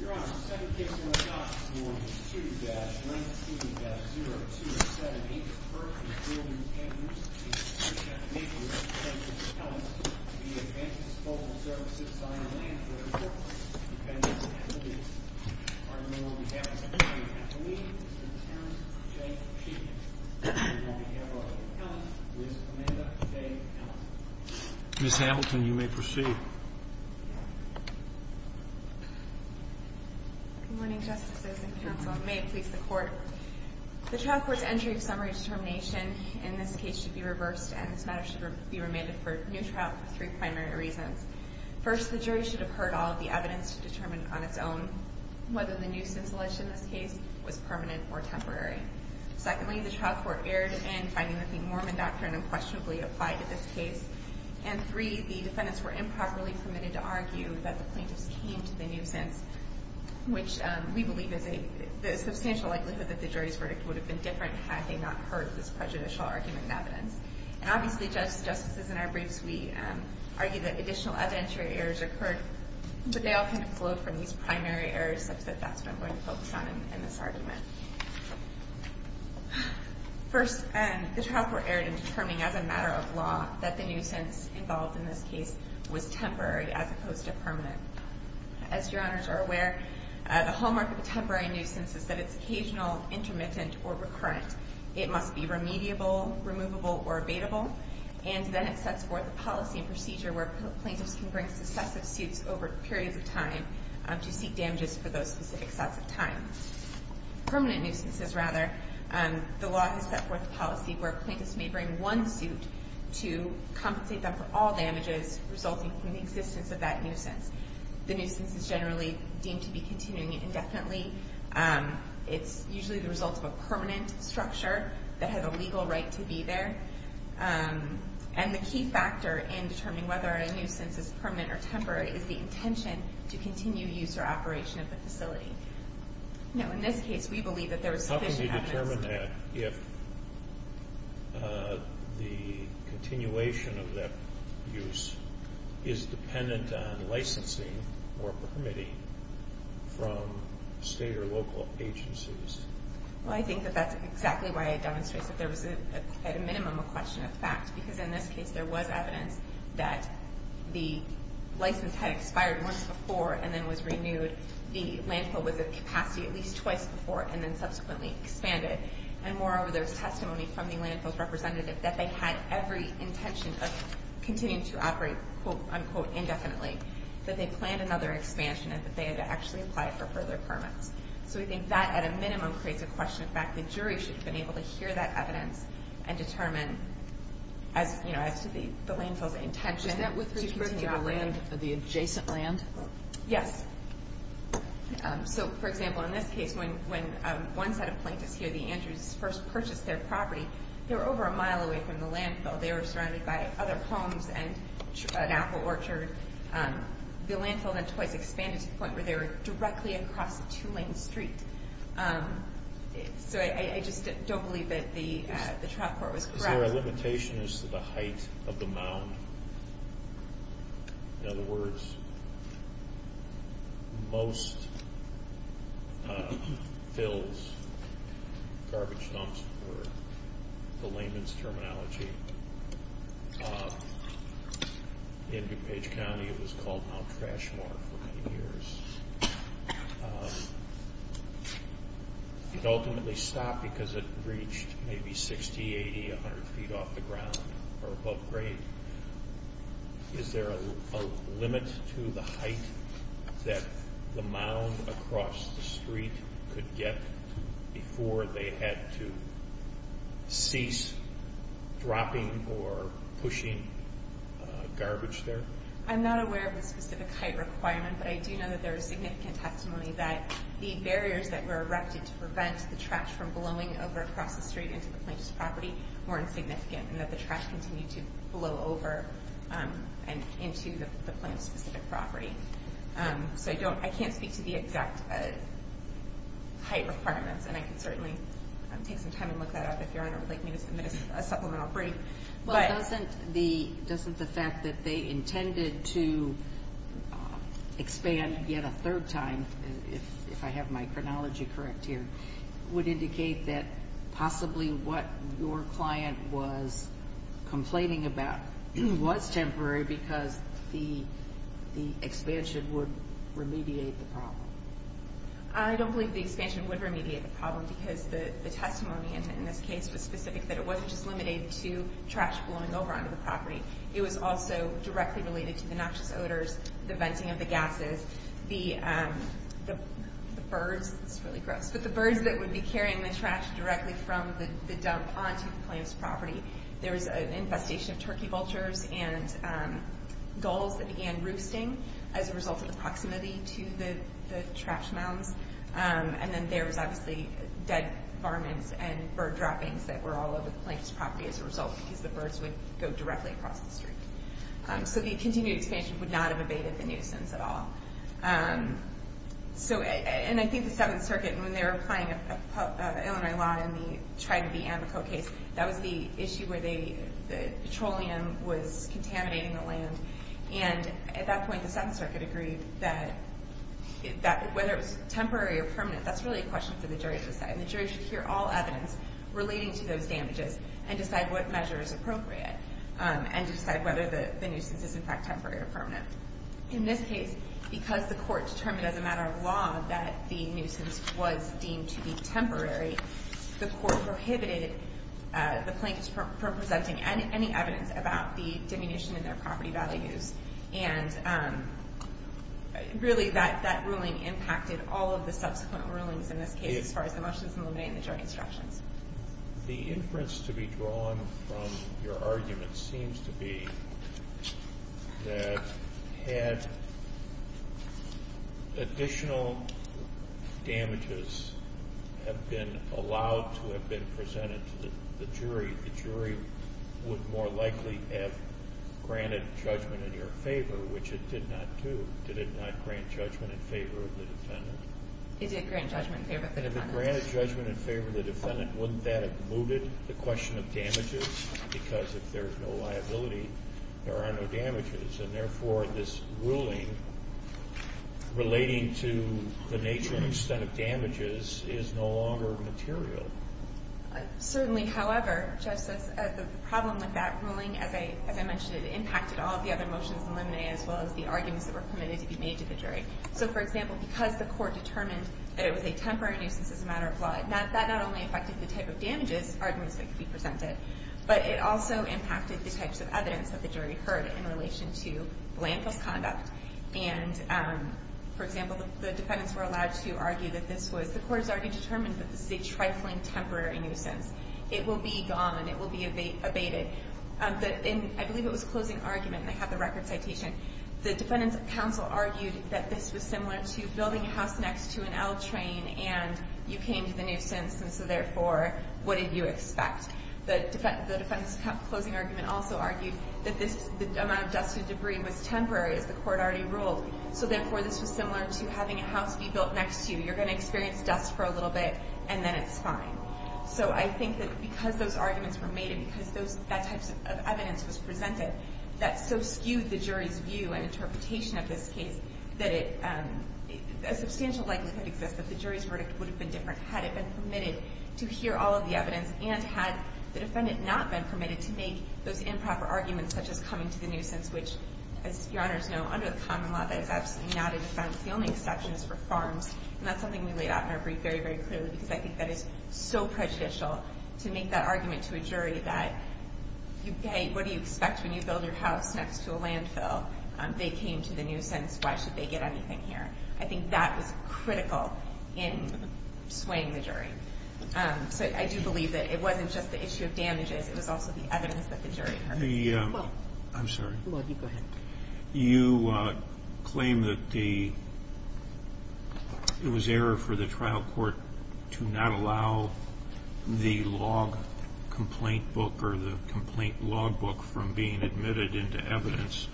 Your Honor, the second case on the docket is Ward 2-19-0278, Perkins Building, Kansas. It appears that the maker of this plaintiff's appellant is the Advanced Vocal Services, Ireland, for the purpose of defending its affiliates. I hereby declare that the plaintiff's appellant is the Advanced Vocal Services, I hereby declare that the plaintiff's appellant is the Advanced Vocal Services, Ireland, for the purpose of defending its affiliates. Whether the nuisance alleged in this case was permanent or temporary. Secondly, the trial court erred in finding that the Mormon doctrine unquestionably applied to this case. And three, the defendants were improperly permitted to argue that the plaintiffs came to the nuisance, which we believe is a substantial likelihood that the jury's verdict would have been different had they not heard this prejudicial argument in evidence. And obviously, justices in our briefs, we argue that additional evidentiary errors occurred, but they all kind of flowed from these primary errors such that that's what I'm going to focus on in this argument. First, the trial court erred in determining as a matter of law that the nuisance involved in this case was temporary as opposed to permanent. As your honors are aware, the hallmark of a temporary nuisance is that it's occasional, intermittent, or recurrent. It must be remediable, removable, or abatable. And then it sets forth a policy and procedure where plaintiffs can bring successive suits over periods of time to seek damages for those specific sets of time. Permanent nuisances, rather, the law has set forth a policy where plaintiffs may bring one suit to compensate them for all damages resulting from the existence of that nuisance. The nuisance is generally deemed to be continuing indefinitely. It's usually the result of a permanent structure that had a legal right to be there. And the key factor in determining whether a nuisance is permanent or temporary is the intention to continue use or operation of the facility. Now, in this case, we believe that there was sufficient evidence. Can you determine that if the continuation of that use is dependent on licensing or permitting from state or local agencies? Well, I think that that's exactly why I demonstrated that there was, at a minimum, a question of fact. Because in this case, there was evidence that the license had expired once before and then was renewed. The landfill was at capacity at least twice before and then subsequently expanded. And moreover, there was testimony from the landfill's representative that they had every intention of continuing to operate, quote, unquote, indefinitely. That they planned another expansion and that they had to actually apply for further permits. So we think that, at a minimum, creates a question of fact. The jury should have been able to hear that evidence and determine as to the landfill's intention to continue operating. Is that with respect to the adjacent land? Yes. So, for example, in this case, when one set of plaintiffs here, the Andrews, first purchased their property, they were over a mile away from the landfill. They were surrounded by other homes and an apple orchard. The landfill then twice expanded to the point where they were directly across a two-lane street. So I just don't believe that the trial court was correct. Is there a limitation as to the height of the mound? In other words, most fills, garbage dumps, were the layman's terminology. In DuPage County, it was called Mount Trashmore for many years. It ultimately stopped because it reached maybe 60, 80, 100 feet off the ground or above grade. Is there a limit to the height that the mound across the street could get before they had to cease dropping or pushing garbage there? I'm not aware of the specific height requirement, but I do know that there is significant testimony that the barriers that were erected to prevent the trash from blowing over across the street into the plaintiff's property weren't significant and that the trash continued to blow over and into the plaintiff's specific property. So I can't speak to the exact height requirements, and I can certainly take some time and look that up if Your Honor would like me to submit a supplemental brief. Well, doesn't the fact that they intended to expand yet a third time, if I have my chronology correct here, would indicate that possibly what your client was complaining about was temporary because the expansion would remediate the problem? I don't believe the expansion would remediate the problem because the testimony in this case was specific that it wasn't just limited to trash blowing over onto the property. It was also directly related to the noxious odors, the venting of the gases, the birds that would be carrying the trash directly from the dump onto the plaintiff's property. There was an infestation of turkey vultures and gulls that began roosting as a result of the proximity to the trash mounds. And then there was obviously dead varmints and bird droppings that were all over the plaintiff's property as a result because the birds would go directly across the street. So the continued expansion would not have abated the nuisance at all. And I think the Seventh Circuit, when they were applying a preliminary law in the Trident v. Amico case, that was the issue where the petroleum was contaminating the land. And at that point, the Seventh Circuit agreed that whether it was temporary or permanent, that's really a question for the jury to decide. And the jury should hear all evidence relating to those damages and decide what measure is appropriate and decide whether the nuisance is in fact temporary or permanent. In this case, because the court determined as a matter of law that the nuisance was deemed to be temporary, the court prohibited the plaintiffs from presenting any evidence about the diminution in their property values. And really, that ruling impacted all of the subsequent rulings in this case as far as the motions and limiting the jury instructions. The inference to be drawn from your argument seems to be that had additional damages have been allowed to have been presented to the jury, the jury would more likely have granted judgment in your favor, which it did not do. Did it not grant judgment in favor of the defendant? It did grant judgment in favor of the defendant. And if it granted judgment in favor of the defendant, wouldn't that have mooted the question of damages? Because if there's no liability, there are no damages. And therefore, this ruling relating to the nature and extent of damages is no longer material. Certainly, however, Justice, the problem with that ruling, as I mentioned, it impacted all of the other motions and limiting it as well as the arguments that were permitted to be made to the jury. So, for example, because the court determined that it was a temporary nuisance as a matter of law, that not only affected the type of damages arguments that could be presented, but it also impacted the types of evidence that the jury heard in relation to blameless conduct. And, for example, the defendants were allowed to argue that this was, the court has already determined that this is a trifling temporary nuisance. It will be gone. It will be abated. I believe it was a closing argument, and I have the record citation. The defendant's counsel argued that this was similar to building a house next to an L train, and you came to the nuisance, and so, therefore, what did you expect? The defendant's closing argument also argued that this amount of dust and debris was temporary, as the court already ruled. So, therefore, this was similar to having a house be built next to you. You're going to experience dust for a little bit, and then it's fine. So I think that because those arguments were made and because that type of evidence was presented, that so skewed the jury's view and interpretation of this case that it, a substantial likelihood exists that the jury's verdict would have been different had it been permitted to hear all of the evidence and had the defendant not been permitted to make those improper arguments, such as coming to the nuisance, which, as Your Honors know, under the common law, that is absolutely not a defense. The only exception is for farms, and that's something we laid out in our brief very, very clearly, because I think that is so prejudicial to make that argument to a jury that, okay, what do you expect when you build your house next to a landfill? They came to the nuisance. Why should they get anything here? I think that was critical in swaying the jury. So I do believe that it wasn't just the issue of damages. It was also the evidence that the jury heard. I'm sorry. Go ahead. You claim that it was error for the trial court to not allow the log complaint book or the complaint log book from being admitted into evidence.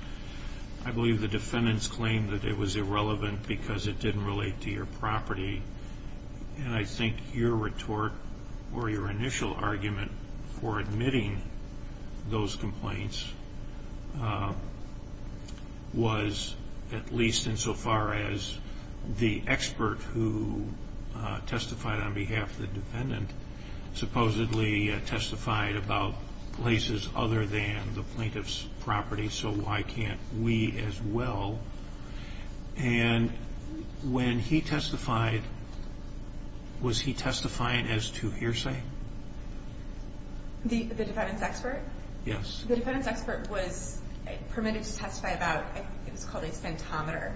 I believe the defendant's claim that it was irrelevant because it didn't relate to your property, and I think your retort or your initial argument for admitting those complaints was at least insofar as the expert who testified on behalf of the defendant supposedly testified about places other than the plaintiff's property, so why can't we as well? And when he testified, was he testifying as to hearsay? The defendant's expert? Yes. The defendant's expert was permitted to testify about, I think it was called a centometer.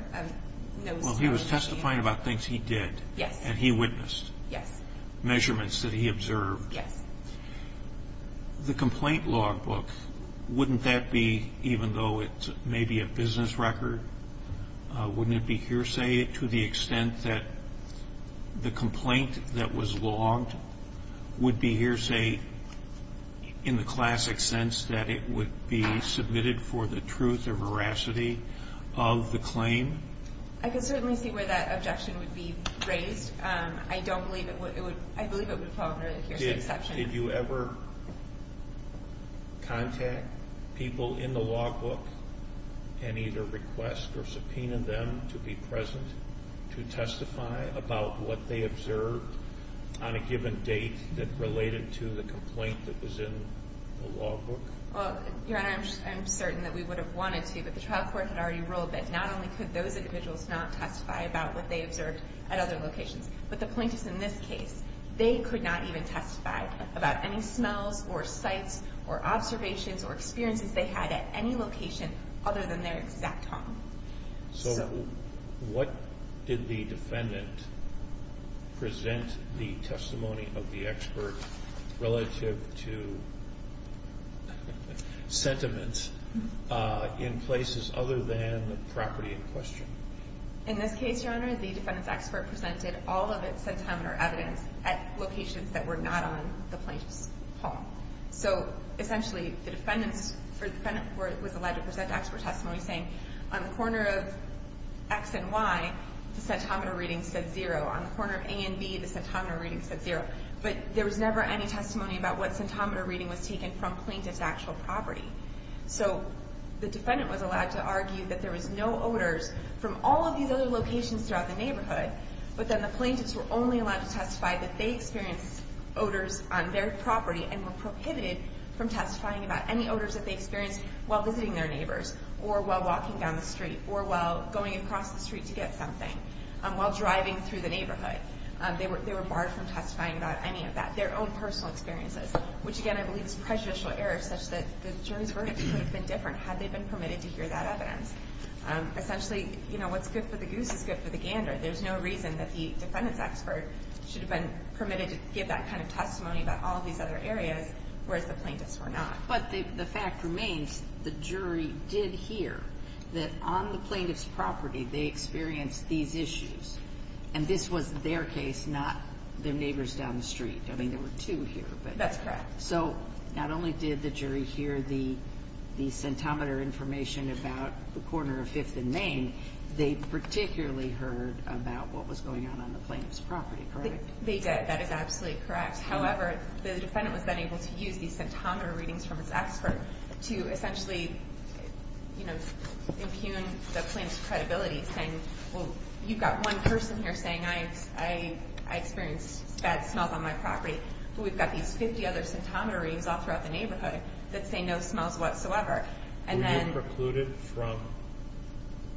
Well, he was testifying about things he did. Yes. And he witnessed. Yes. Measurements that he observed. Yes. The complaint log book, wouldn't that be, even though it may be a business record, wouldn't it be hearsay to the extent that the complaint that was logged would be hearsay in the classic sense that it would be submitted for the truth or veracity of the claim? I could certainly see where that objection would be raised. I don't believe it would. I believe it would fall under the hearsay exception. Did you ever contact people in the log book and either request or subpoena them to be present to testify about what they observed on a given date that related to the complaint that was in the log book? Well, Your Honor, I'm certain that we would have wanted to, but the trial court had already ruled that not only could those individuals not testify about what they observed at other locations, but the plaintiffs in this case, they could not even testify about any smells or sights or observations or experiences they had at any location other than their exact home. So what did the defendant present the testimony of the expert relative to sentiments in places other than the property in question? In this case, Your Honor, the defendant's expert presented all of its sentiment or evidence at locations that were not on the plaintiff's home. So essentially, the defendant was allowed to present expert testimony saying, on the corner of X and Y, the sentiment reading said zero. On the corner of A and B, the sentiment reading said zero. But there was never any testimony about what sentiment reading was taken from plaintiff's actual property. So the defendant was allowed to argue that there was no odors from all of these other locations throughout the neighborhood, but then the plaintiffs were only allowed to testify that they experienced odors on their property and were prohibited from testifying about any odors that they experienced while visiting their neighbors or while walking down the street or while going across the street to get something, while driving through the neighborhood. They were barred from testifying about any of that, their own personal experiences, which, again, I believe is a prejudicial error such that the jury's verdict could have been different had they been permitted to hear that evidence. Essentially, you know, what's good for the goose is good for the gander. There's no reason that the defendant's expert should have been permitted to give that kind of testimony about all of these other areas, whereas the plaintiffs were not. But the fact remains the jury did hear that on the plaintiff's property they experienced these issues, and this was their case, not their neighbor's down the street. I mean, there were two here. That's correct. So not only did the jury hear the scintometer information about the corner of 5th and Main, they particularly heard about what was going on on the plaintiff's property, correct? They did. That is absolutely correct. However, the defendant was then able to use the scintometer readings from his expert to essentially, you know, impugn the plaintiff's credibility, saying, well, you've got one person here saying I experienced bad smells on my property, but we've got these 50 other scintometer readings all throughout the neighborhood that say no smells whatsoever. Were you precluded from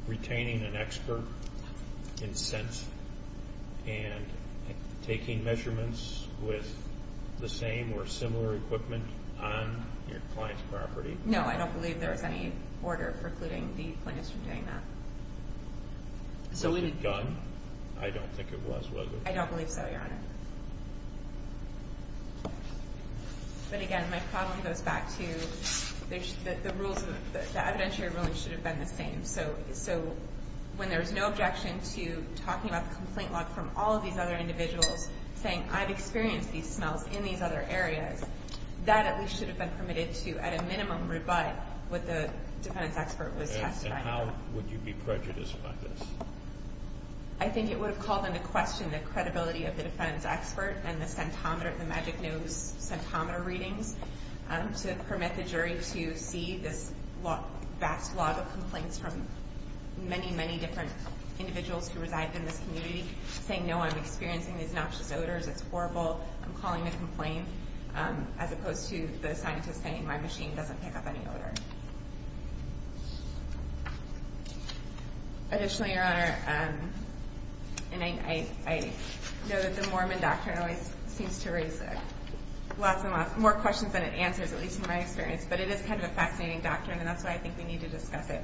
retaining an expert in scents and taking measurements with the same or similar equipment on your client's property? No, I don't believe there was any order precluding the plaintiffs from doing that. Was it done? I don't think it was, was it? I don't believe so, Your Honor. But again, my problem goes back to the rules, the evidentiary rulings should have been the same. So when there was no objection to talking about the complaint log from all of these other individuals saying I've experienced these smells in these other areas, that at least should have been permitted to, at a minimum, rebut what the defendant's expert was testifying about. And how would you be prejudiced by this? I think it would have called into question the credibility of the defendant's expert and the magic nose scintometer readings to permit the jury to see this vast log of complaints from many, many different individuals who reside in this community saying, no, I'm experiencing these noxious odors, it's horrible, I'm calling a complaint, as opposed to the scientist saying my machine doesn't pick up any odor. Additionally, Your Honor, I know that the Mormon doctrine always seems to raise more questions than it answers, at least in my experience, but it is kind of a fascinating doctrine and that's why I think we need to discuss it.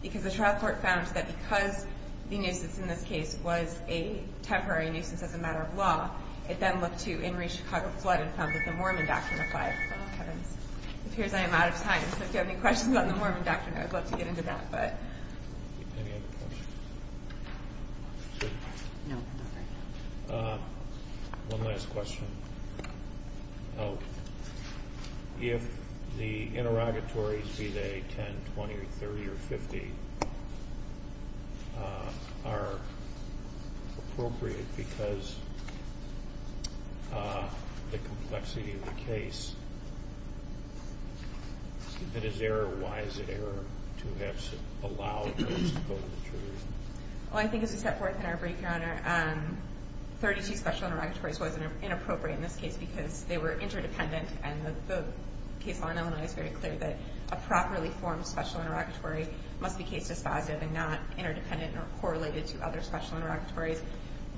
Because the trial court found that because the nuisance in this case was a temporary nuisance as a matter of law, it then looked to Henry Chicago flood and found that the Mormon doctrine applied. It appears I am out of time. So if you have any questions about the Mormon doctrine, I'd love to get into that. One last question. If the interrogatories, be they 10, 20, 30, or 50, are appropriate because of the complexity of the case, if it is error, why is it error to have allowed those to go to the jury? Well, I think as we set forth in our brief, Your Honor, 32 special interrogatories was inappropriate in this case because they were interdependent and the case law in Illinois is very clear that a properly formed special interrogatory must be case dispositive and not interdependent or correlated to other special interrogatories.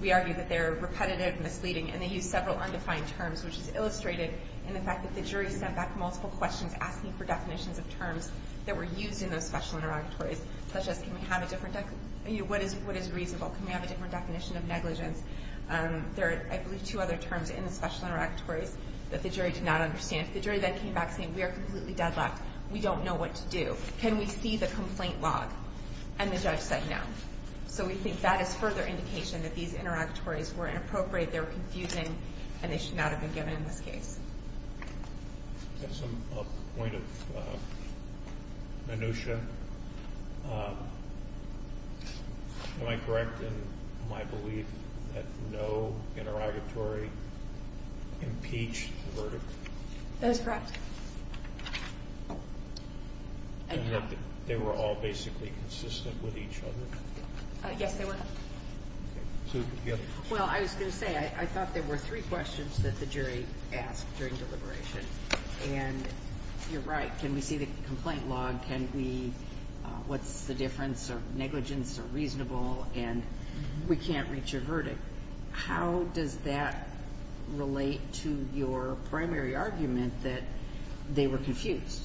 We argue that they are repetitive, misleading, and they use several undefined terms, which is illustrated in the fact that the jury sent back multiple questions asking for definitions of terms that were used in those special interrogatories, such as what is reasonable, can we have a different definition of negligence. There are, I believe, two other terms in the special interrogatories that the jury did not understand. The jury then came back saying we are completely deadlocked. We don't know what to do. Can we see the complaint log? And the judge said no. So we think that is further indication that these interrogatories were inappropriate, they were confusing, and they should not have been given in this case. That's a point of minutia. Am I correct in my belief that no interrogatory impeached the verdict? That is correct. And that they were all basically consistent with each other? Yes, they were. Well, I was going to say I thought there were three questions that the jury asked during deliberation. And you're right. Can we see the complaint log? What's the difference of negligence or reasonable? And we can't reach a verdict. How does that relate to your primary argument that they were confused?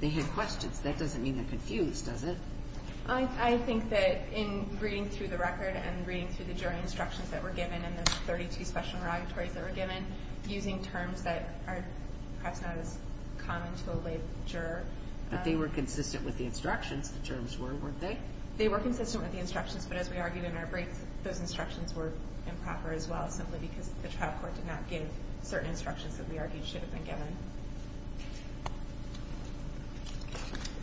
They had questions. That doesn't mean they're confused, does it? I think that in reading through the record and reading through the jury instructions that were given and the 32 special interrogatories that were given, using terms that are perhaps not as common to a lay juror. But they were consistent with the instructions, the terms were, weren't they? They were consistent with the instructions, but as we argued in our brief, those instructions were improper as well, simply because the trial court did not give certain instructions that we argued should have been given.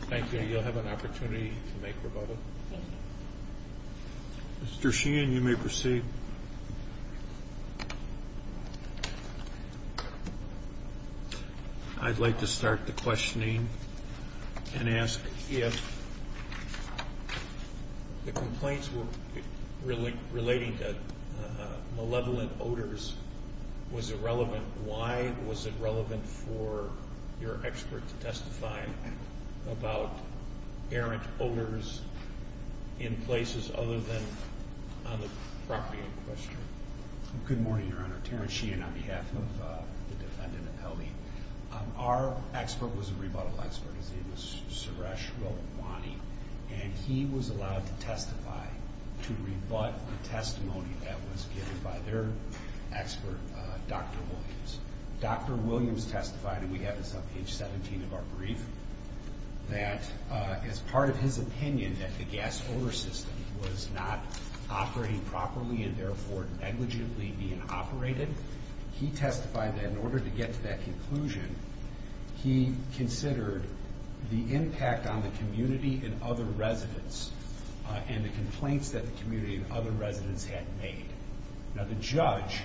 Thank you. You'll have an opportunity to make rebuttal. Mr. Sheehan, you may proceed. I'd like to start the questioning and ask if the complaints were relating to malevolent odors, was it relevant? Why was it relevant for your expert to testify about errant odors in places other than on the property in question? Good morning, Your Honor. Terrence Sheehan on behalf of the defendant, Ellie. Our expert was a rebuttal expert. His name was Suresh Rawani, and he was allowed to testify to rebut the testimony that was given by their expert, Dr. Williams. Dr. Williams testified, and we have this on page 17 of our brief, that as part of his opinion that the gas odor system was not operating properly and therefore negligently being operated, he testified that in order to get to that conclusion, he considered the impact on the community and other residents and the complaints that the community and other residents had made. Now, the judge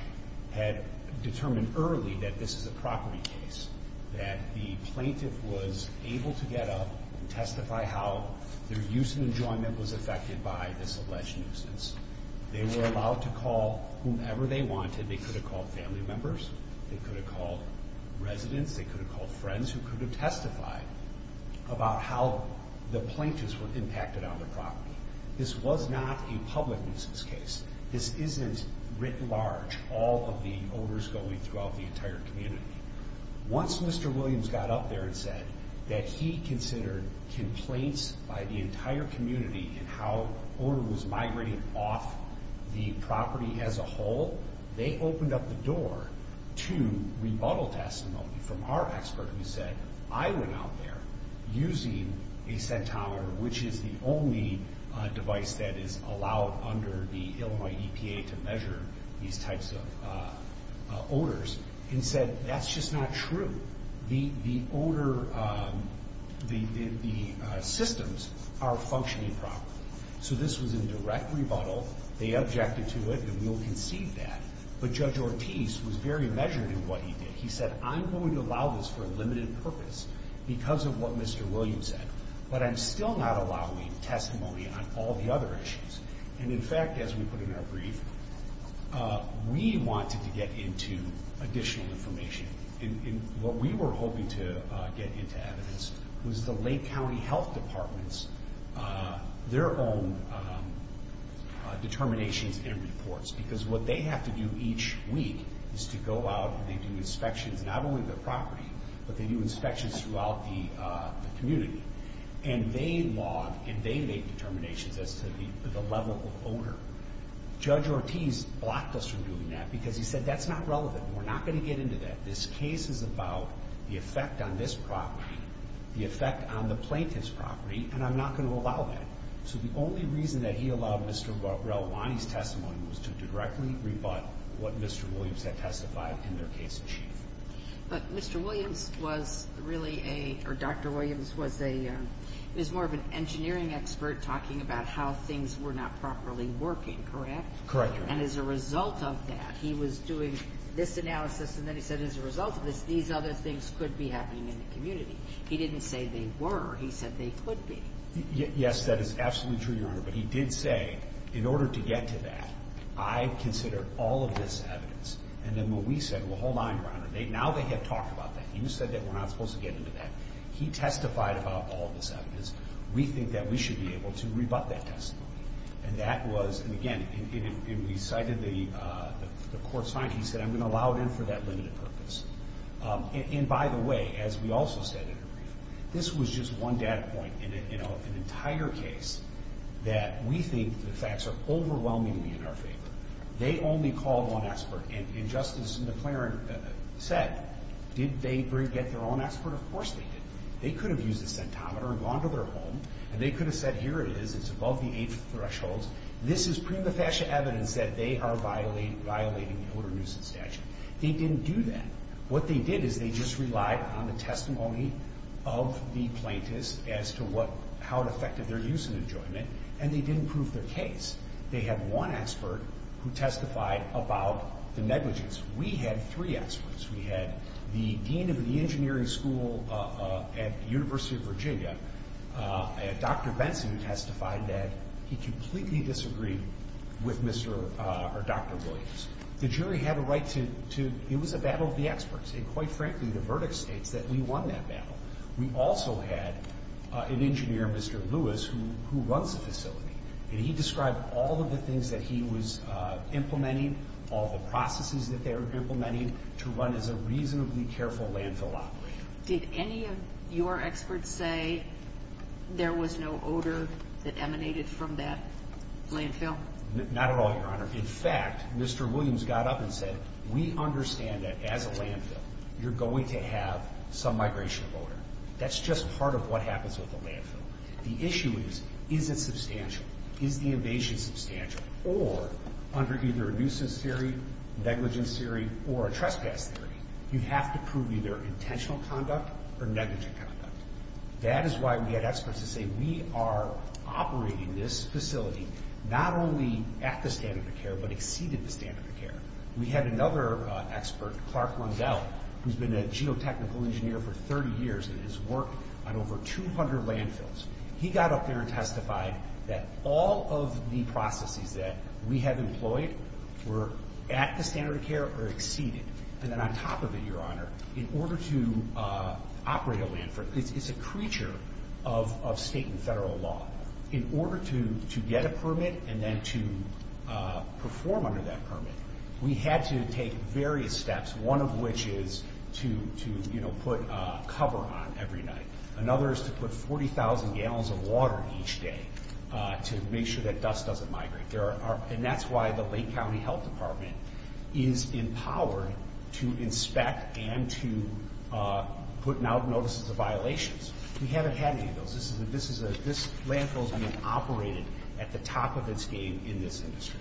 had determined early that this is a property case, that the plaintiff was able to get up and testify how their use and enjoyment was affected by this alleged nuisance. They were allowed to call whomever they wanted. They could have called family members. They could have called residents. They could have called friends who could have testified about how the plaintiffs were impacted on the property. This was not a public nuisance case. This isn't writ large, all of the odors going throughout the entire community. Once Mr. Williams got up there and said that he considered complaints by the entire community and how odor was migrating off the property as a whole, they opened up the door to rebuttal testimony from our expert who said, I went out there using a scintometer, which is the only device that is allowed under the Illinois EPA to measure these types of odors, and said, that's just not true. The odor, the systems are functioning properly. So this was a direct rebuttal. They objected to it, and we'll concede that. But Judge Ortiz was very measured in what he did. He said, I'm going to allow this for a limited purpose because of what Mr. Williams said, but I'm still not allowing testimony on all the other issues. And, in fact, as we put in our brief, we wanted to get into additional information. What we were hoping to get into evidence was the Lake County Health Department's, their own determinations and reports. Because what they have to do each week is to go out and they do inspections, not only of the property, but they do inspections throughout the community. And they log and they make determinations as to the level of odor. Judge Ortiz blocked us from doing that because he said, that's not relevant. We're not going to get into that. This case is about the effect on this property, the effect on the plaintiff's property, and I'm not going to allow that. So the only reason that he allowed Mr. Relevani's testimony was to directly rebut what Mr. Williams had testified in their case in chief. But Mr. Williams was really a, or Dr. Williams was a, was more of an engineering expert talking about how things were not properly working, correct? Correct. And as a result of that, he was doing this analysis and then he said, as a result of this, these other things could be happening in the community. He didn't say they were. He said they could be. Yes, that is absolutely true, Your Honor. But he did say, in order to get to that, I consider all of this evidence. And then what we said, well, hold on, Your Honor. Now they have talked about that. You said that we're not supposed to get into that. He testified about all of this evidence. We think that we should be able to rebut that testimony. And that was, and again, we cited the court's finding. He said, I'm going to allow it in for that limited purpose. And by the way, as we also said, this was just one data point in an entire case that we think the facts are overwhelmingly in our favor. They only called one expert. And Justice McClaren said, did they get their own expert? Of course they did. They could have used a centometer and gone to their home, and they could have said, here it is. It's above the age threshold. This is prima facie evidence that they are violating the older nuisance statute. They didn't do that. What they did is they just relied on the testimony of the plaintiffs as to how it affected their use and enjoyment, and they didn't prove their case. They had one expert who testified about the negligence. We had three experts. We had the dean of the engineering school at the University of Virginia and Dr. Benson who testified that he completely disagreed with Dr. Williams. The jury had a right to, it was a battle of the experts, and quite frankly the verdict states that we won that battle. We also had an engineer, Mr. Lewis, who runs the facility, and he described all of the things that he was implementing, all the processes that they were implementing, to run as a reasonably careful landfill operator. Did any of your experts say there was no odor that emanated from that landfill? Not at all, Your Honor. In fact, Mr. Williams got up and said, we understand that as a landfill you're going to have some migration of odor. That's just part of what happens with a landfill. The issue is, is it substantial? Is the invasion substantial? Or under either a nuisance theory, negligence theory, or a trespass theory, you have to prove either intentional conduct or negligent conduct. That is why we had experts that say we are operating this facility not only at the standard of care but exceeded the standard of care. We had another expert, Clark Lundell, who's been a geotechnical engineer for 30 years and has worked on over 200 landfills. He got up there and testified that all of the processes that we have employed were at the standard of care or exceeded. And then on top of it, Your Honor, in order to operate a landfill, it's a creature of state and federal law. In order to get a permit and then to perform under that permit, we had to take various steps, one of which is to put a cover on every night. Another is to put 40,000 gallons of water each day to make sure that dust doesn't migrate. And that's why the Lake County Health Department is empowered to inspect and to put out notices of violations. We haven't had any of those. This landfill has been operated at the top of its game in this industry.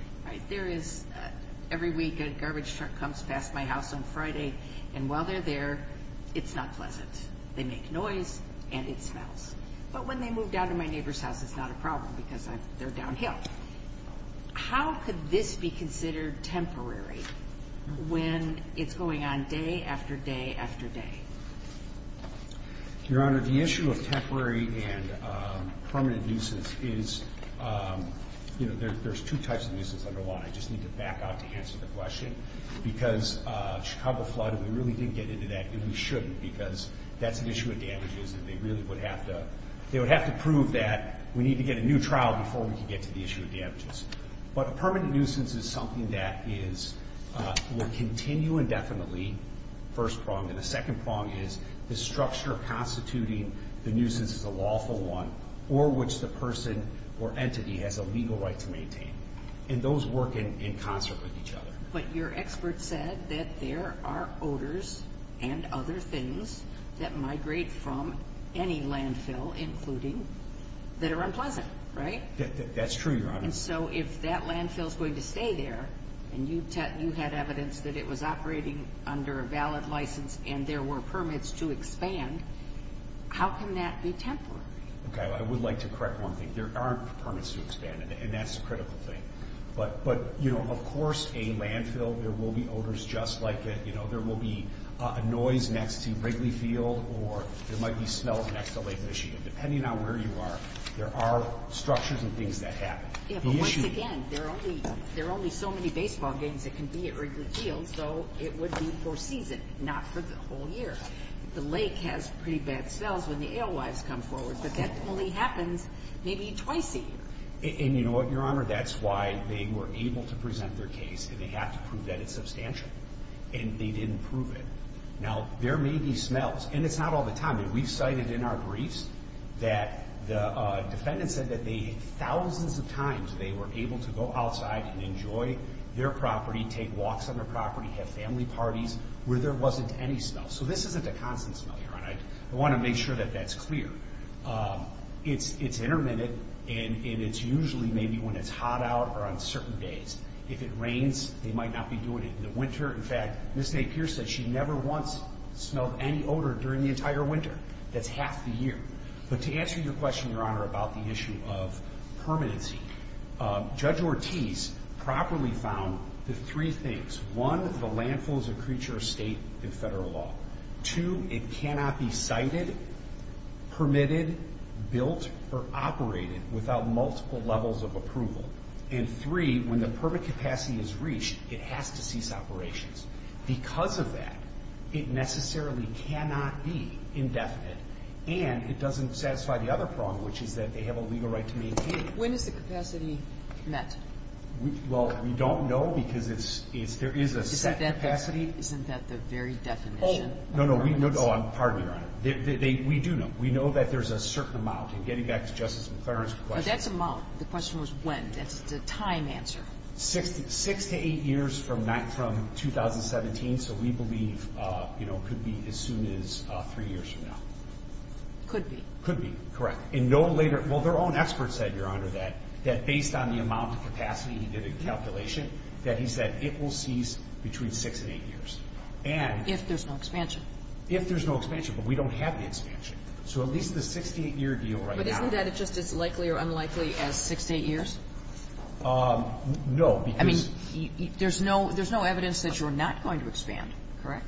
Every week a garbage truck comes past my house on Friday, and while they're there, it's not pleasant. They make noise and it smells. But when they move down to my neighbor's house, it's not a problem because they're downhill. How could this be considered temporary when it's going on day after day after day? Your Honor, the issue of temporary and permanent nuisance is, you know, there's two types of nuisance. I don't know why. I just need to back out to answer the question. Because Chicago flooded, we really didn't get into that, and we shouldn't because that's an issue of damages and they really would have to prove that we need to get a new trial before we can get to the issue of damages. But a permanent nuisance is something that will continue indefinitely, first prong. And the second prong is the structure of constituting the nuisance as a lawful one or which the person or entity has a legal right to maintain. And those work in concert with each other. But your expert said that there are odors and other things that migrate from any landfill including that are unpleasant, right? That's true, Your Honor. And so if that landfill is going to stay there and you had evidence that it was operating under a valid license and there were permits to expand, how can that be temporary? Okay. I would like to correct one thing. There aren't permits to expand, and that's a critical thing. But, you know, of course, a landfill, there will be odors just like it. You know, there will be a noise next to Wrigley Field or there might be smells next to Lake Michigan. Depending on where you are, there are structures and things that happen. Yeah, but once again, there are only so many baseball games that can be at Wrigley Field, so it would be for a season, not for the whole year. The lake has pretty bad smells when the alewives come forward, but that only happens maybe twice a year. And, you know what, Your Honor, that's why they were able to present their case and they have to prove that it's substantial. And they didn't prove it. Now, there may be smells, and it's not all the time. We've cited in our briefs that the defendant said that thousands of times they were able to go outside and enjoy their property, take walks on their property, have family parties where there wasn't any smell. So this isn't a constant smell, Your Honor. I want to make sure that that's clear. It's intermittent, and it's usually maybe when it's hot out or on certain days. If it rains, they might not be doing it in the winter. In fact, Ms. Napier said she never once smelled any odor during the entire winter. That's half the year. But to answer your question, Your Honor, about the issue of permanency, Judge Ortiz properly found the three things. One, the landfill is a creature of state and federal law. Two, it cannot be cited, permitted, built, or operated without multiple levels of approval. And three, when the permit capacity is reached, it has to cease operations. Because of that, it necessarily cannot be indefinite, and it doesn't satisfy the other prong, which is that they have a legal right to maintain it. When is the capacity met? Well, we don't know because it's – there is a set capacity. Isn't that the very definition of permanency? Oh, no, no. Oh, pardon me, Your Honor. We do know. We know that there's a certain amount. And getting back to Justice McClaren's question. But that's amount. The question was when. That's the time answer. Six to eight years from 2017. So we believe, you know, it could be as soon as three years from now. Could be. Could be. And no later – well, their own expert said, Your Honor, that based on the amount of capacity, he did a calculation, that he said it will cease between six and eight years. And – If there's no expansion. If there's no expansion. But we don't have the expansion. So at least the 68-year deal right now – Six to eight years? No, because – I mean, there's no evidence that you're not going to expand, correct?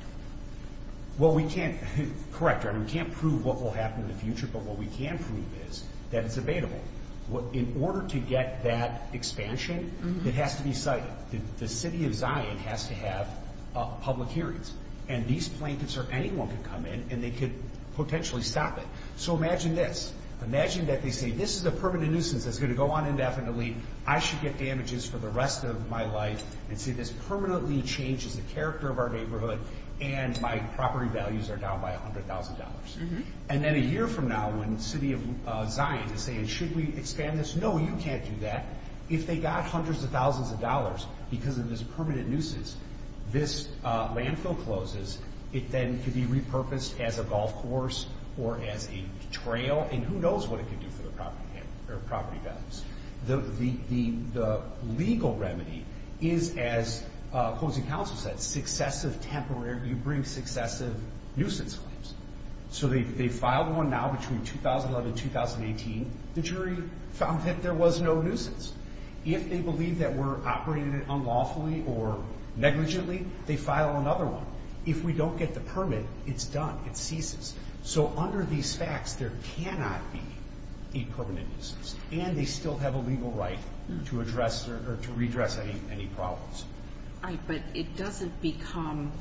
Well, we can't – correct, Your Honor, we can't prove what will happen in the future. But what we can prove is that it's available. In order to get that expansion, it has to be cited. The city of Zion has to have public hearings. And these plaintiffs or anyone could come in and they could potentially stop it. So imagine this. Imagine that they say, This is a permanent nuisance that's going to go on indefinitely. I should get damages for the rest of my life. And say, This permanently changes the character of our neighborhood and my property values are down by $100,000. And then a year from now, when the city of Zion is saying, Should we expand this? No, you can't do that. If they got hundreds of thousands of dollars because of this permanent nuisance, this landfill closes, it then could be repurposed as a golf course or as a trail. And who knows what it could do for the property values. The legal remedy is, as opposing counsel said, successive temporary – you bring successive nuisance claims. So they filed one now between 2011 and 2018. The jury found that there was no nuisance. If they believe that we're operating it unlawfully or negligently, they file another one. If we don't get the permit, it's done. It ceases. So under these facts, there cannot be a permanent nuisance. And they still have a legal right to address or to redress any problems. All right, but it doesn't become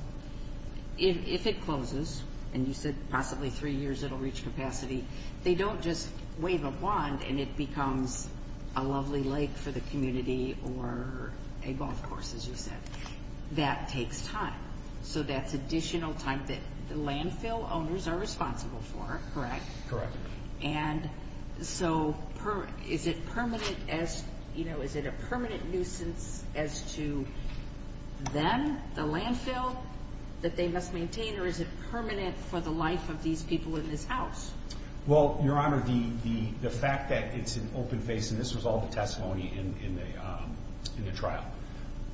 – if it closes, and you said possibly three years it'll reach capacity, they don't just wave a wand and it becomes a lovely lake for the community or a golf course, as you said. That takes time. So that's additional time that the landfill owners are responsible for, correct? Correct. And so is it permanent as – you know, is it a permanent nuisance as to them, the landfill, that they must maintain, or is it permanent for the life of these people in this house? Well, Your Honor, the fact that it's an open face – and this was all the testimony in the trial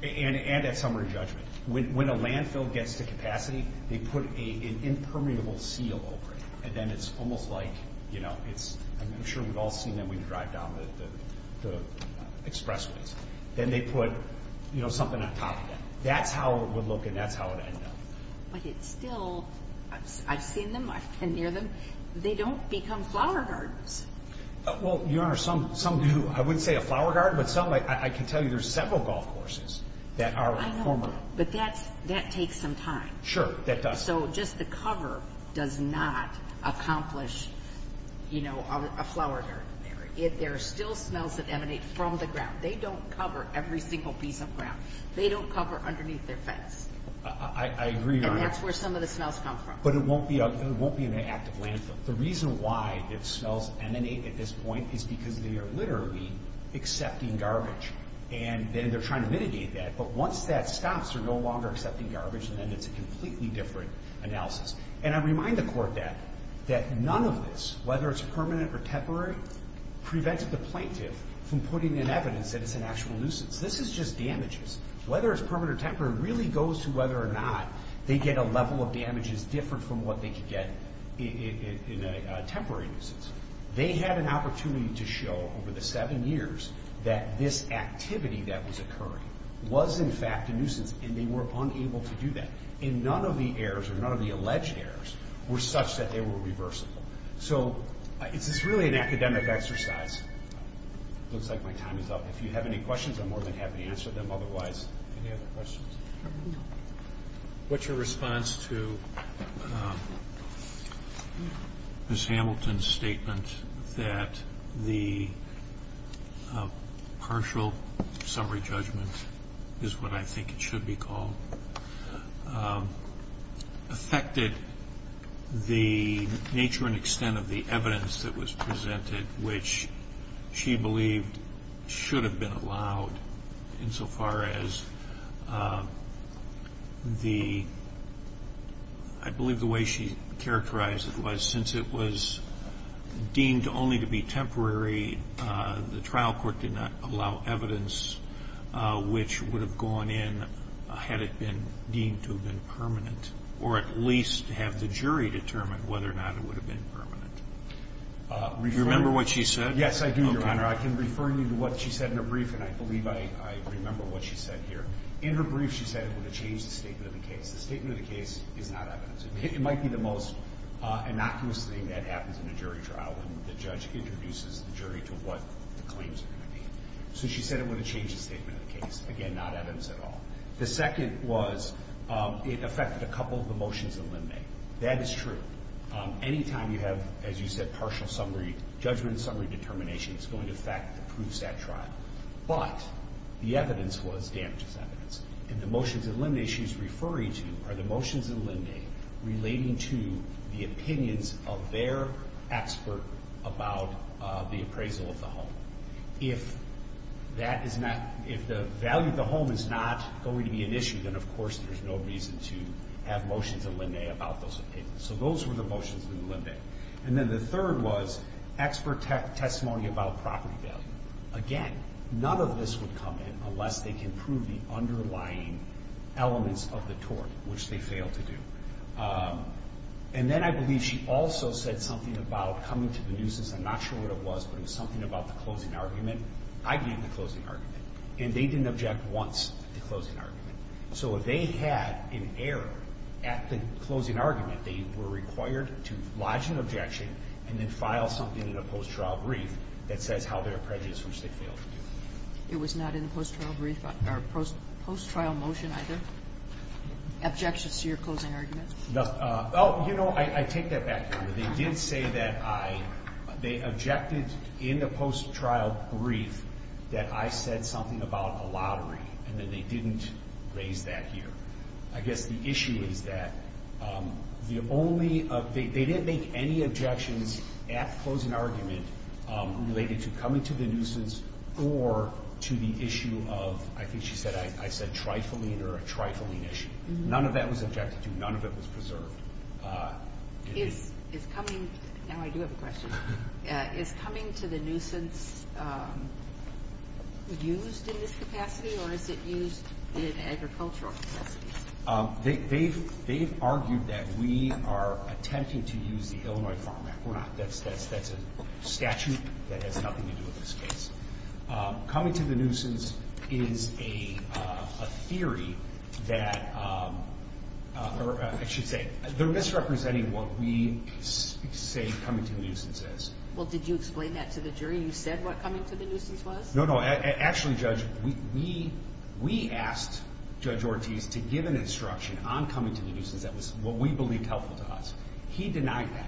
and at summary judgment. When a landfill gets to capacity, they put an impermeable seal over it. And then it's almost like, you know, it's – I'm sure we've all seen them when you drive down the expressways. Then they put, you know, something on top of it. That's how it would look and that's how it would end up. But it's still – I've seen them, I've been near them. They don't become flower gardens. Well, Your Honor, some do. I wouldn't say a flower garden, but some – I can tell you there's several golf courses that are former. I know, but that takes some time. Sure, that does. So just the cover does not accomplish, you know, a flower garden there. There are still smells that emanate from the ground. They don't cover every single piece of ground. They don't cover underneath their fence. I agree, Your Honor. And that's where some of the smells come from. But it won't be an active landfill. The reason why the smells emanate at this point is because they are literally accepting garbage. And then they're trying to mitigate that. But once that stops, they're no longer accepting garbage, and then it's a completely different analysis. And I remind the Court that none of this, whether it's permanent or temporary, prevents the plaintiff from putting in evidence that it's an actual nuisance. This is just damages. Whether it's permanent or temporary really goes to whether or not they get a level of damage that's different from what they could get in a temporary nuisance. They had an opportunity to show, over the seven years, that this activity that was occurring was, in fact, a nuisance, and they were unable to do that. And none of the errors, or none of the alleged errors, were such that they were reversible. So this is really an academic exercise. It looks like my time is up. If you have any questions, I'm more than happy to answer them. Otherwise, any other questions? What's your response to Ms. Hamilton's statement that the partial summary judgment, is what I think it should be called, affected the nature and extent of the evidence that was presented, which she believed should have been allowed insofar as the, I believe the way she characterized it was since it was deemed only to be temporary, the trial court did not allow evidence which would have gone in had it been deemed to have been permanent, or at least have the jury determine whether or not it would have been permanent. Do you remember what she said? Yes, I do, Your Honor. I can refer you to what she said in her brief, and I believe I remember what she said here. In her brief, she said it would have changed the statement of the case. The statement of the case is not evidence. It might be the most innocuous thing that happens in a jury trial when the judge introduces the jury to what the claims are going to be. So she said it would have changed the statement of the case. Again, not evidence at all. The second was it affected a couple of the motions that Lynn made. That is true. Anytime you have, as you said, partial summary judgment, summary determination, it's going to affect the proofs at trial. But the evidence was damages evidence. And the motions that Lynn made, she's referring to are the motions that Lynn made relating to the opinions of their expert about the appraisal of the home. If that is not, if the value of the home is not going to be an issue, then, of course, there's no reason to have motions that Lynn made about those opinions. So those were the motions that Lynn made. And then the third was expert testimony about property value. Again, none of this would come in unless they can prove the underlying elements of the tort, which they failed to do. And then I believe she also said something about coming to the nuisance. I'm not sure what it was, but it was something about the closing argument. I gave the closing argument. And they didn't object once at the closing argument. So if they had an error at the closing argument, they were required to lodge an objection and then file something in a post-trial brief that says how they're prejudiced, which they failed to do. It was not in the post-trial brief or post-trial motion either? Objections to your closing argument? No. Oh, you know, I take that back, Your Honor. They did say that I, they objected in the post-trial brief that I said something about a lottery, and then they didn't raise that here. I guess the issue is that the only, they didn't make any objections at closing argument related to coming to the nuisance or to the issue of, I think she said, I said trifling or a trifling issue. None of that was objected to. None of it was preserved. Is coming, now I do have a question, is coming to the nuisance used in this capacity or is it used in agricultural capacity? They've argued that we are attempting to use the Illinois Farm Act. We're not. That's a statute that has nothing to do with this case. Coming to the nuisance is a theory that, or I should say, they're misrepresenting what we say coming to the nuisance is. Well, did you explain that to the jury? You said what coming to the nuisance was? No, no. Actually, Judge, we asked Judge Ortiz to give an instruction on coming to the nuisance that was what we believed helpful to us. He denied that.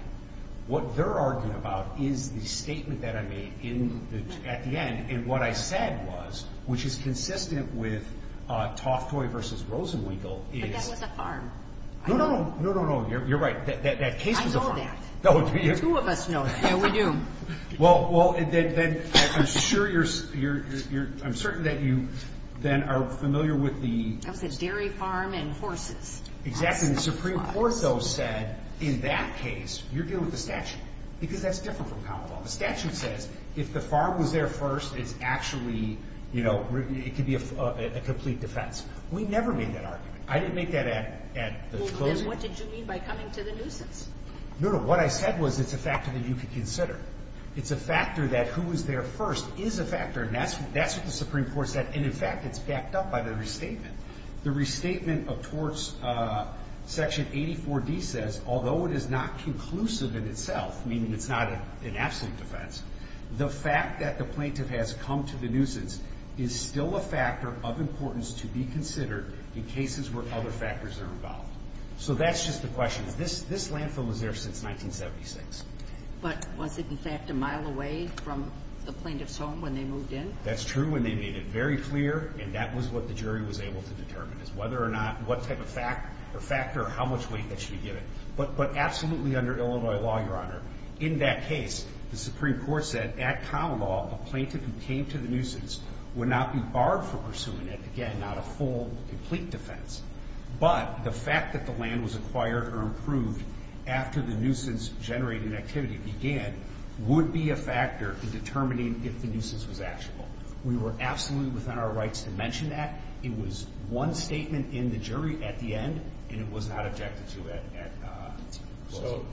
What they're arguing about is the statement that I made at the end, and what I said was, which is consistent with Toftoy v. Rosenweigel. But that was a farm. No, no, no. You're right. That case was a farm. I know that. The two of us know that. Yeah, we do. Well, then I'm sure you're, I'm certain that you then are familiar with the... That was a dairy farm and horses. Exactly. The Supreme Court, though, said in that case you're dealing with the statute because that's different from common law. The statute says if the farm was there first, it's actually, you know, it could be a complete defense. We never made that argument. I didn't make that at the closing. Well, then what did you mean by coming to the nuisance? No, no. What I said was it's a factor that you could consider. It's a factor that who was there first is a factor, and that's what the Supreme Court said. And, in fact, it's backed up by the restatement. The restatement of torts, Section 84D says, although it is not conclusive in itself, meaning it's not an absolute defense, the fact that the plaintiff has come to the nuisance is still a factor of importance to be considered in cases where other factors are involved. So that's just the question. This landfill was there since 1976. But was it, in fact, a mile away from the plaintiff's home when they moved in? That's true when they made it very clear, and that was what the jury was able to determine, is whether or not what type of factor or how much weight that should be given. But absolutely under Illinois law, Your Honor, in that case, the Supreme Court said at common law, a plaintiff who came to the nuisance would not be barred from pursuing it. Again, not a full, complete defense. But the fact that the land was acquired or improved after the nuisance-generating activity began would be a factor in determining if the nuisance was actionable. We were absolutely within our rights to mention that. It was one statement in the jury at the end, and it was not objected to at closing. So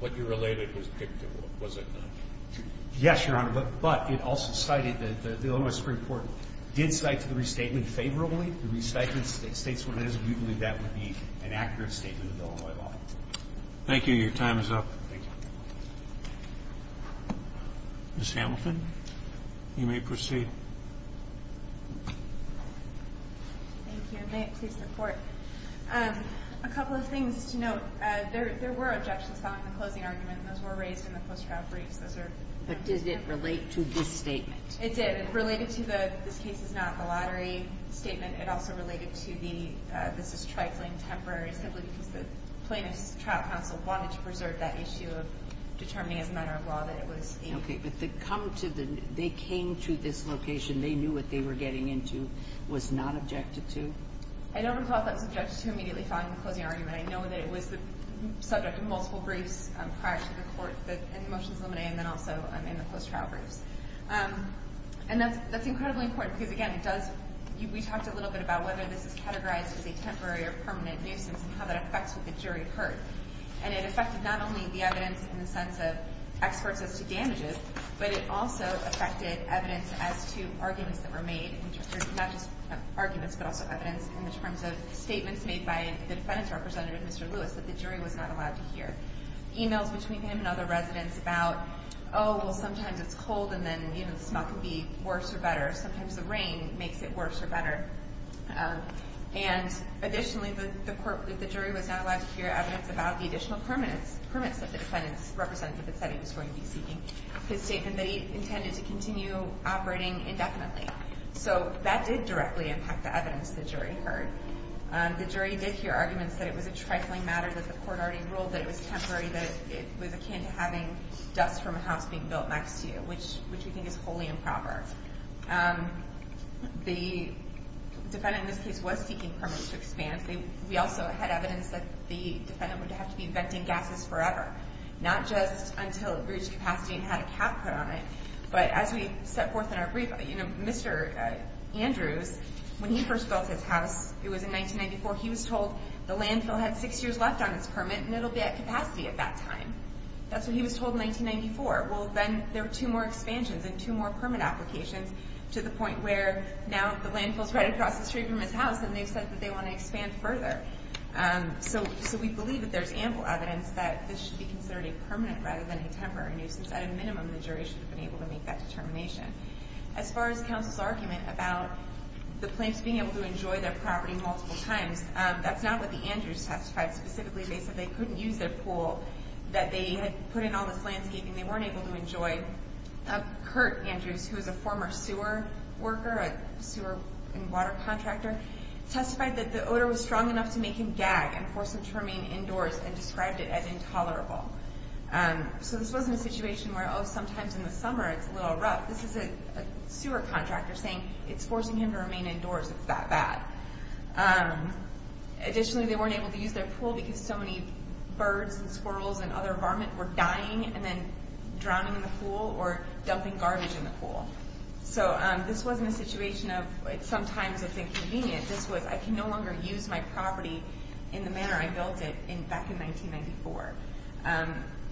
what you related was dictable, was it not? Yes, Your Honor. But it also cited that the Illinois Supreme Court did cite the restatement favorably. The restatement states what it is, and we believe that would be an accurate statement of Illinois law. Thank you. Your time is up. Thank you. Ms. Hamilton, you may proceed. Thank you. May it please the Court. A couple of things to note. There were objections found in the closing argument, and those were raised in the post-trial briefs. But does it relate to this statement? It did. It related to the this case is not the lottery statement. It also related to the this is trifling, temporary, simply because the plaintiff's trial counsel wanted to preserve that issue of determining as a matter of law that it was a... Okay. But they came to this location. They knew what they were getting into. It was not objected to? I don't recall if that was objected to immediately following the closing argument. I know that it was the subject of multiple briefs prior to the court in the motions of limine and then also in the post-trial briefs. And that's incredibly important because, again, we talked a little bit about whether this is categorized as a temporary or permanent nuisance and how that affects what the jury heard. And it affected not only the evidence in the sense of experts as to damages, but it also affected evidence as to arguments that were made in terms of not just arguments but also evidence in terms of statements made by the defendant's representative, Mr. Lewis, that the jury was not allowed to hear. Emails between him and other residents about, oh, well, sometimes it's cold and then the smell can be worse or better. Sometimes the rain makes it worse or better. And additionally, the jury was not allowed to hear evidence about the additional permits that the defendant's representative had said he was going to be seeking. His statement that he intended to continue operating indefinitely. So that did directly impact the evidence the jury heard. The jury did hear arguments that it was a trifling matter that the court already ruled that it was temporary, that it was akin to having dust from a house being built next to you, which we think is wholly improper. The defendant in this case was seeking permits to expand. We also had evidence that the defendant would have to be venting gases forever, not just until it reached capacity and had a cap put on it, but as we set forth in our brief, Mr. Andrews, when he first built his house, it was in 1994, he was told the landfill had six years left on its permit and it'll be at capacity at that time. That's what he was told in 1994. Well, then there were two more expansions and two more permit applications to the point where now the landfill's right across the street from his house and they've said that they want to expand further. So we believe that there's ample evidence that this should be considered a permanent rather than a temporary nuisance. At a minimum, the jury should have been able to make that determination. As far as counsel's argument about the plaintiffs being able to enjoy their property multiple times, that's not what the Andrews testified specifically. They said they couldn't use their pool, that they had put in all this landscaping they weren't able to enjoy. Kurt Andrews, who is a former sewer worker, sewer and water contractor, testified that the odor was strong enough to make him gag and force him to remain indoors and described it as intolerable. So this wasn't a situation where, oh, sometimes in the summer it's a little rough. This is a sewer contractor saying it's forcing him to remain indoors, it's that bad. Additionally, they weren't able to use their pool because so many birds and squirrels and other varmint were dying and then drowning in the pool or dumping garbage in the pool. So this wasn't a situation of sometimes it's inconvenient. This was I can no longer use my property in the manner I built it back in 1994.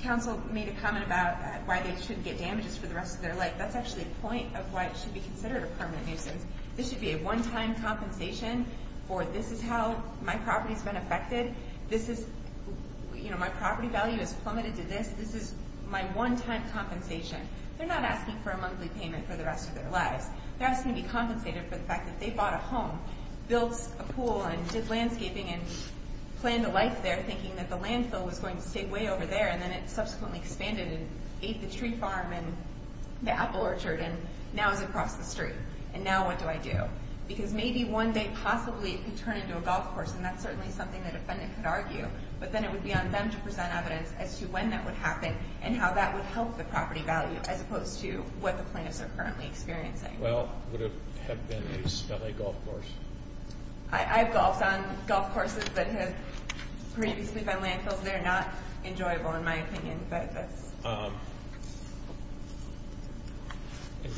Counsel made a comment about why they shouldn't get damages for the rest of their life. That's actually a point of why it should be considered a permanent nuisance. This should be a one-time compensation for this is how my property has been affected, this is my property value has plummeted to this, this is my one-time compensation. They're not asking for a monthly payment for the rest of their lives. They're asking to be compensated for the fact that they bought a home, built a pool and did landscaping and planned a life there thinking that the landfill was going to stay way over there and then it subsequently expanded and ate the tree farm and the apple orchard and now it's across the street. And now what do I do? Because maybe one day possibly it could turn into a golf course and that's certainly something the defendant could argue. But then it would be on them to present evidence as to when that would happen and how that would help the property value as opposed to what the plaintiffs are currently experiencing. Well, would it have been a smelly golf course? I've golfed on golf courses that have previously been landfills. They're not enjoyable in my opinion. In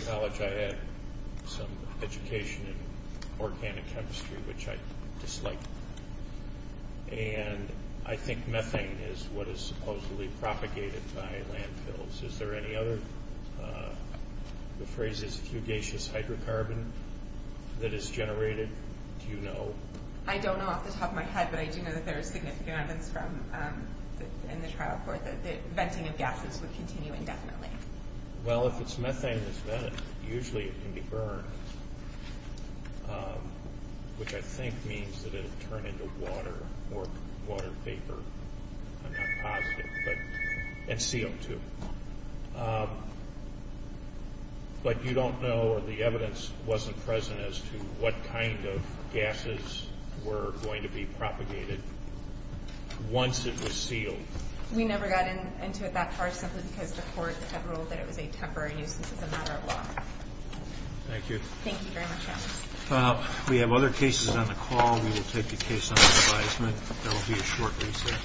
college I had some education in organic chemistry, which I disliked. And I think methane is what is supposedly propagated by landfills. Is there any other? The phrase is fugacious hydrocarbon that is generated. Do you know? I don't know off the top of my head, but I do know that there is significant evidence in the trial court that the venting of gases would continue indefinitely. Well, if it's methane that's vented, usually it can be burned, which I think means that it would turn into water or water vapor. I'm not positive. And CO2. But you don't know or the evidence wasn't present as to what kind of gases were going to be propagated once it was sealed. We never got into it that far simply because the court had ruled that it was a temporary nuisance as a matter of law. Thank you. Thank you very much, Alice. We have other cases on the call. We will take the case under advisement. There will be a short recess.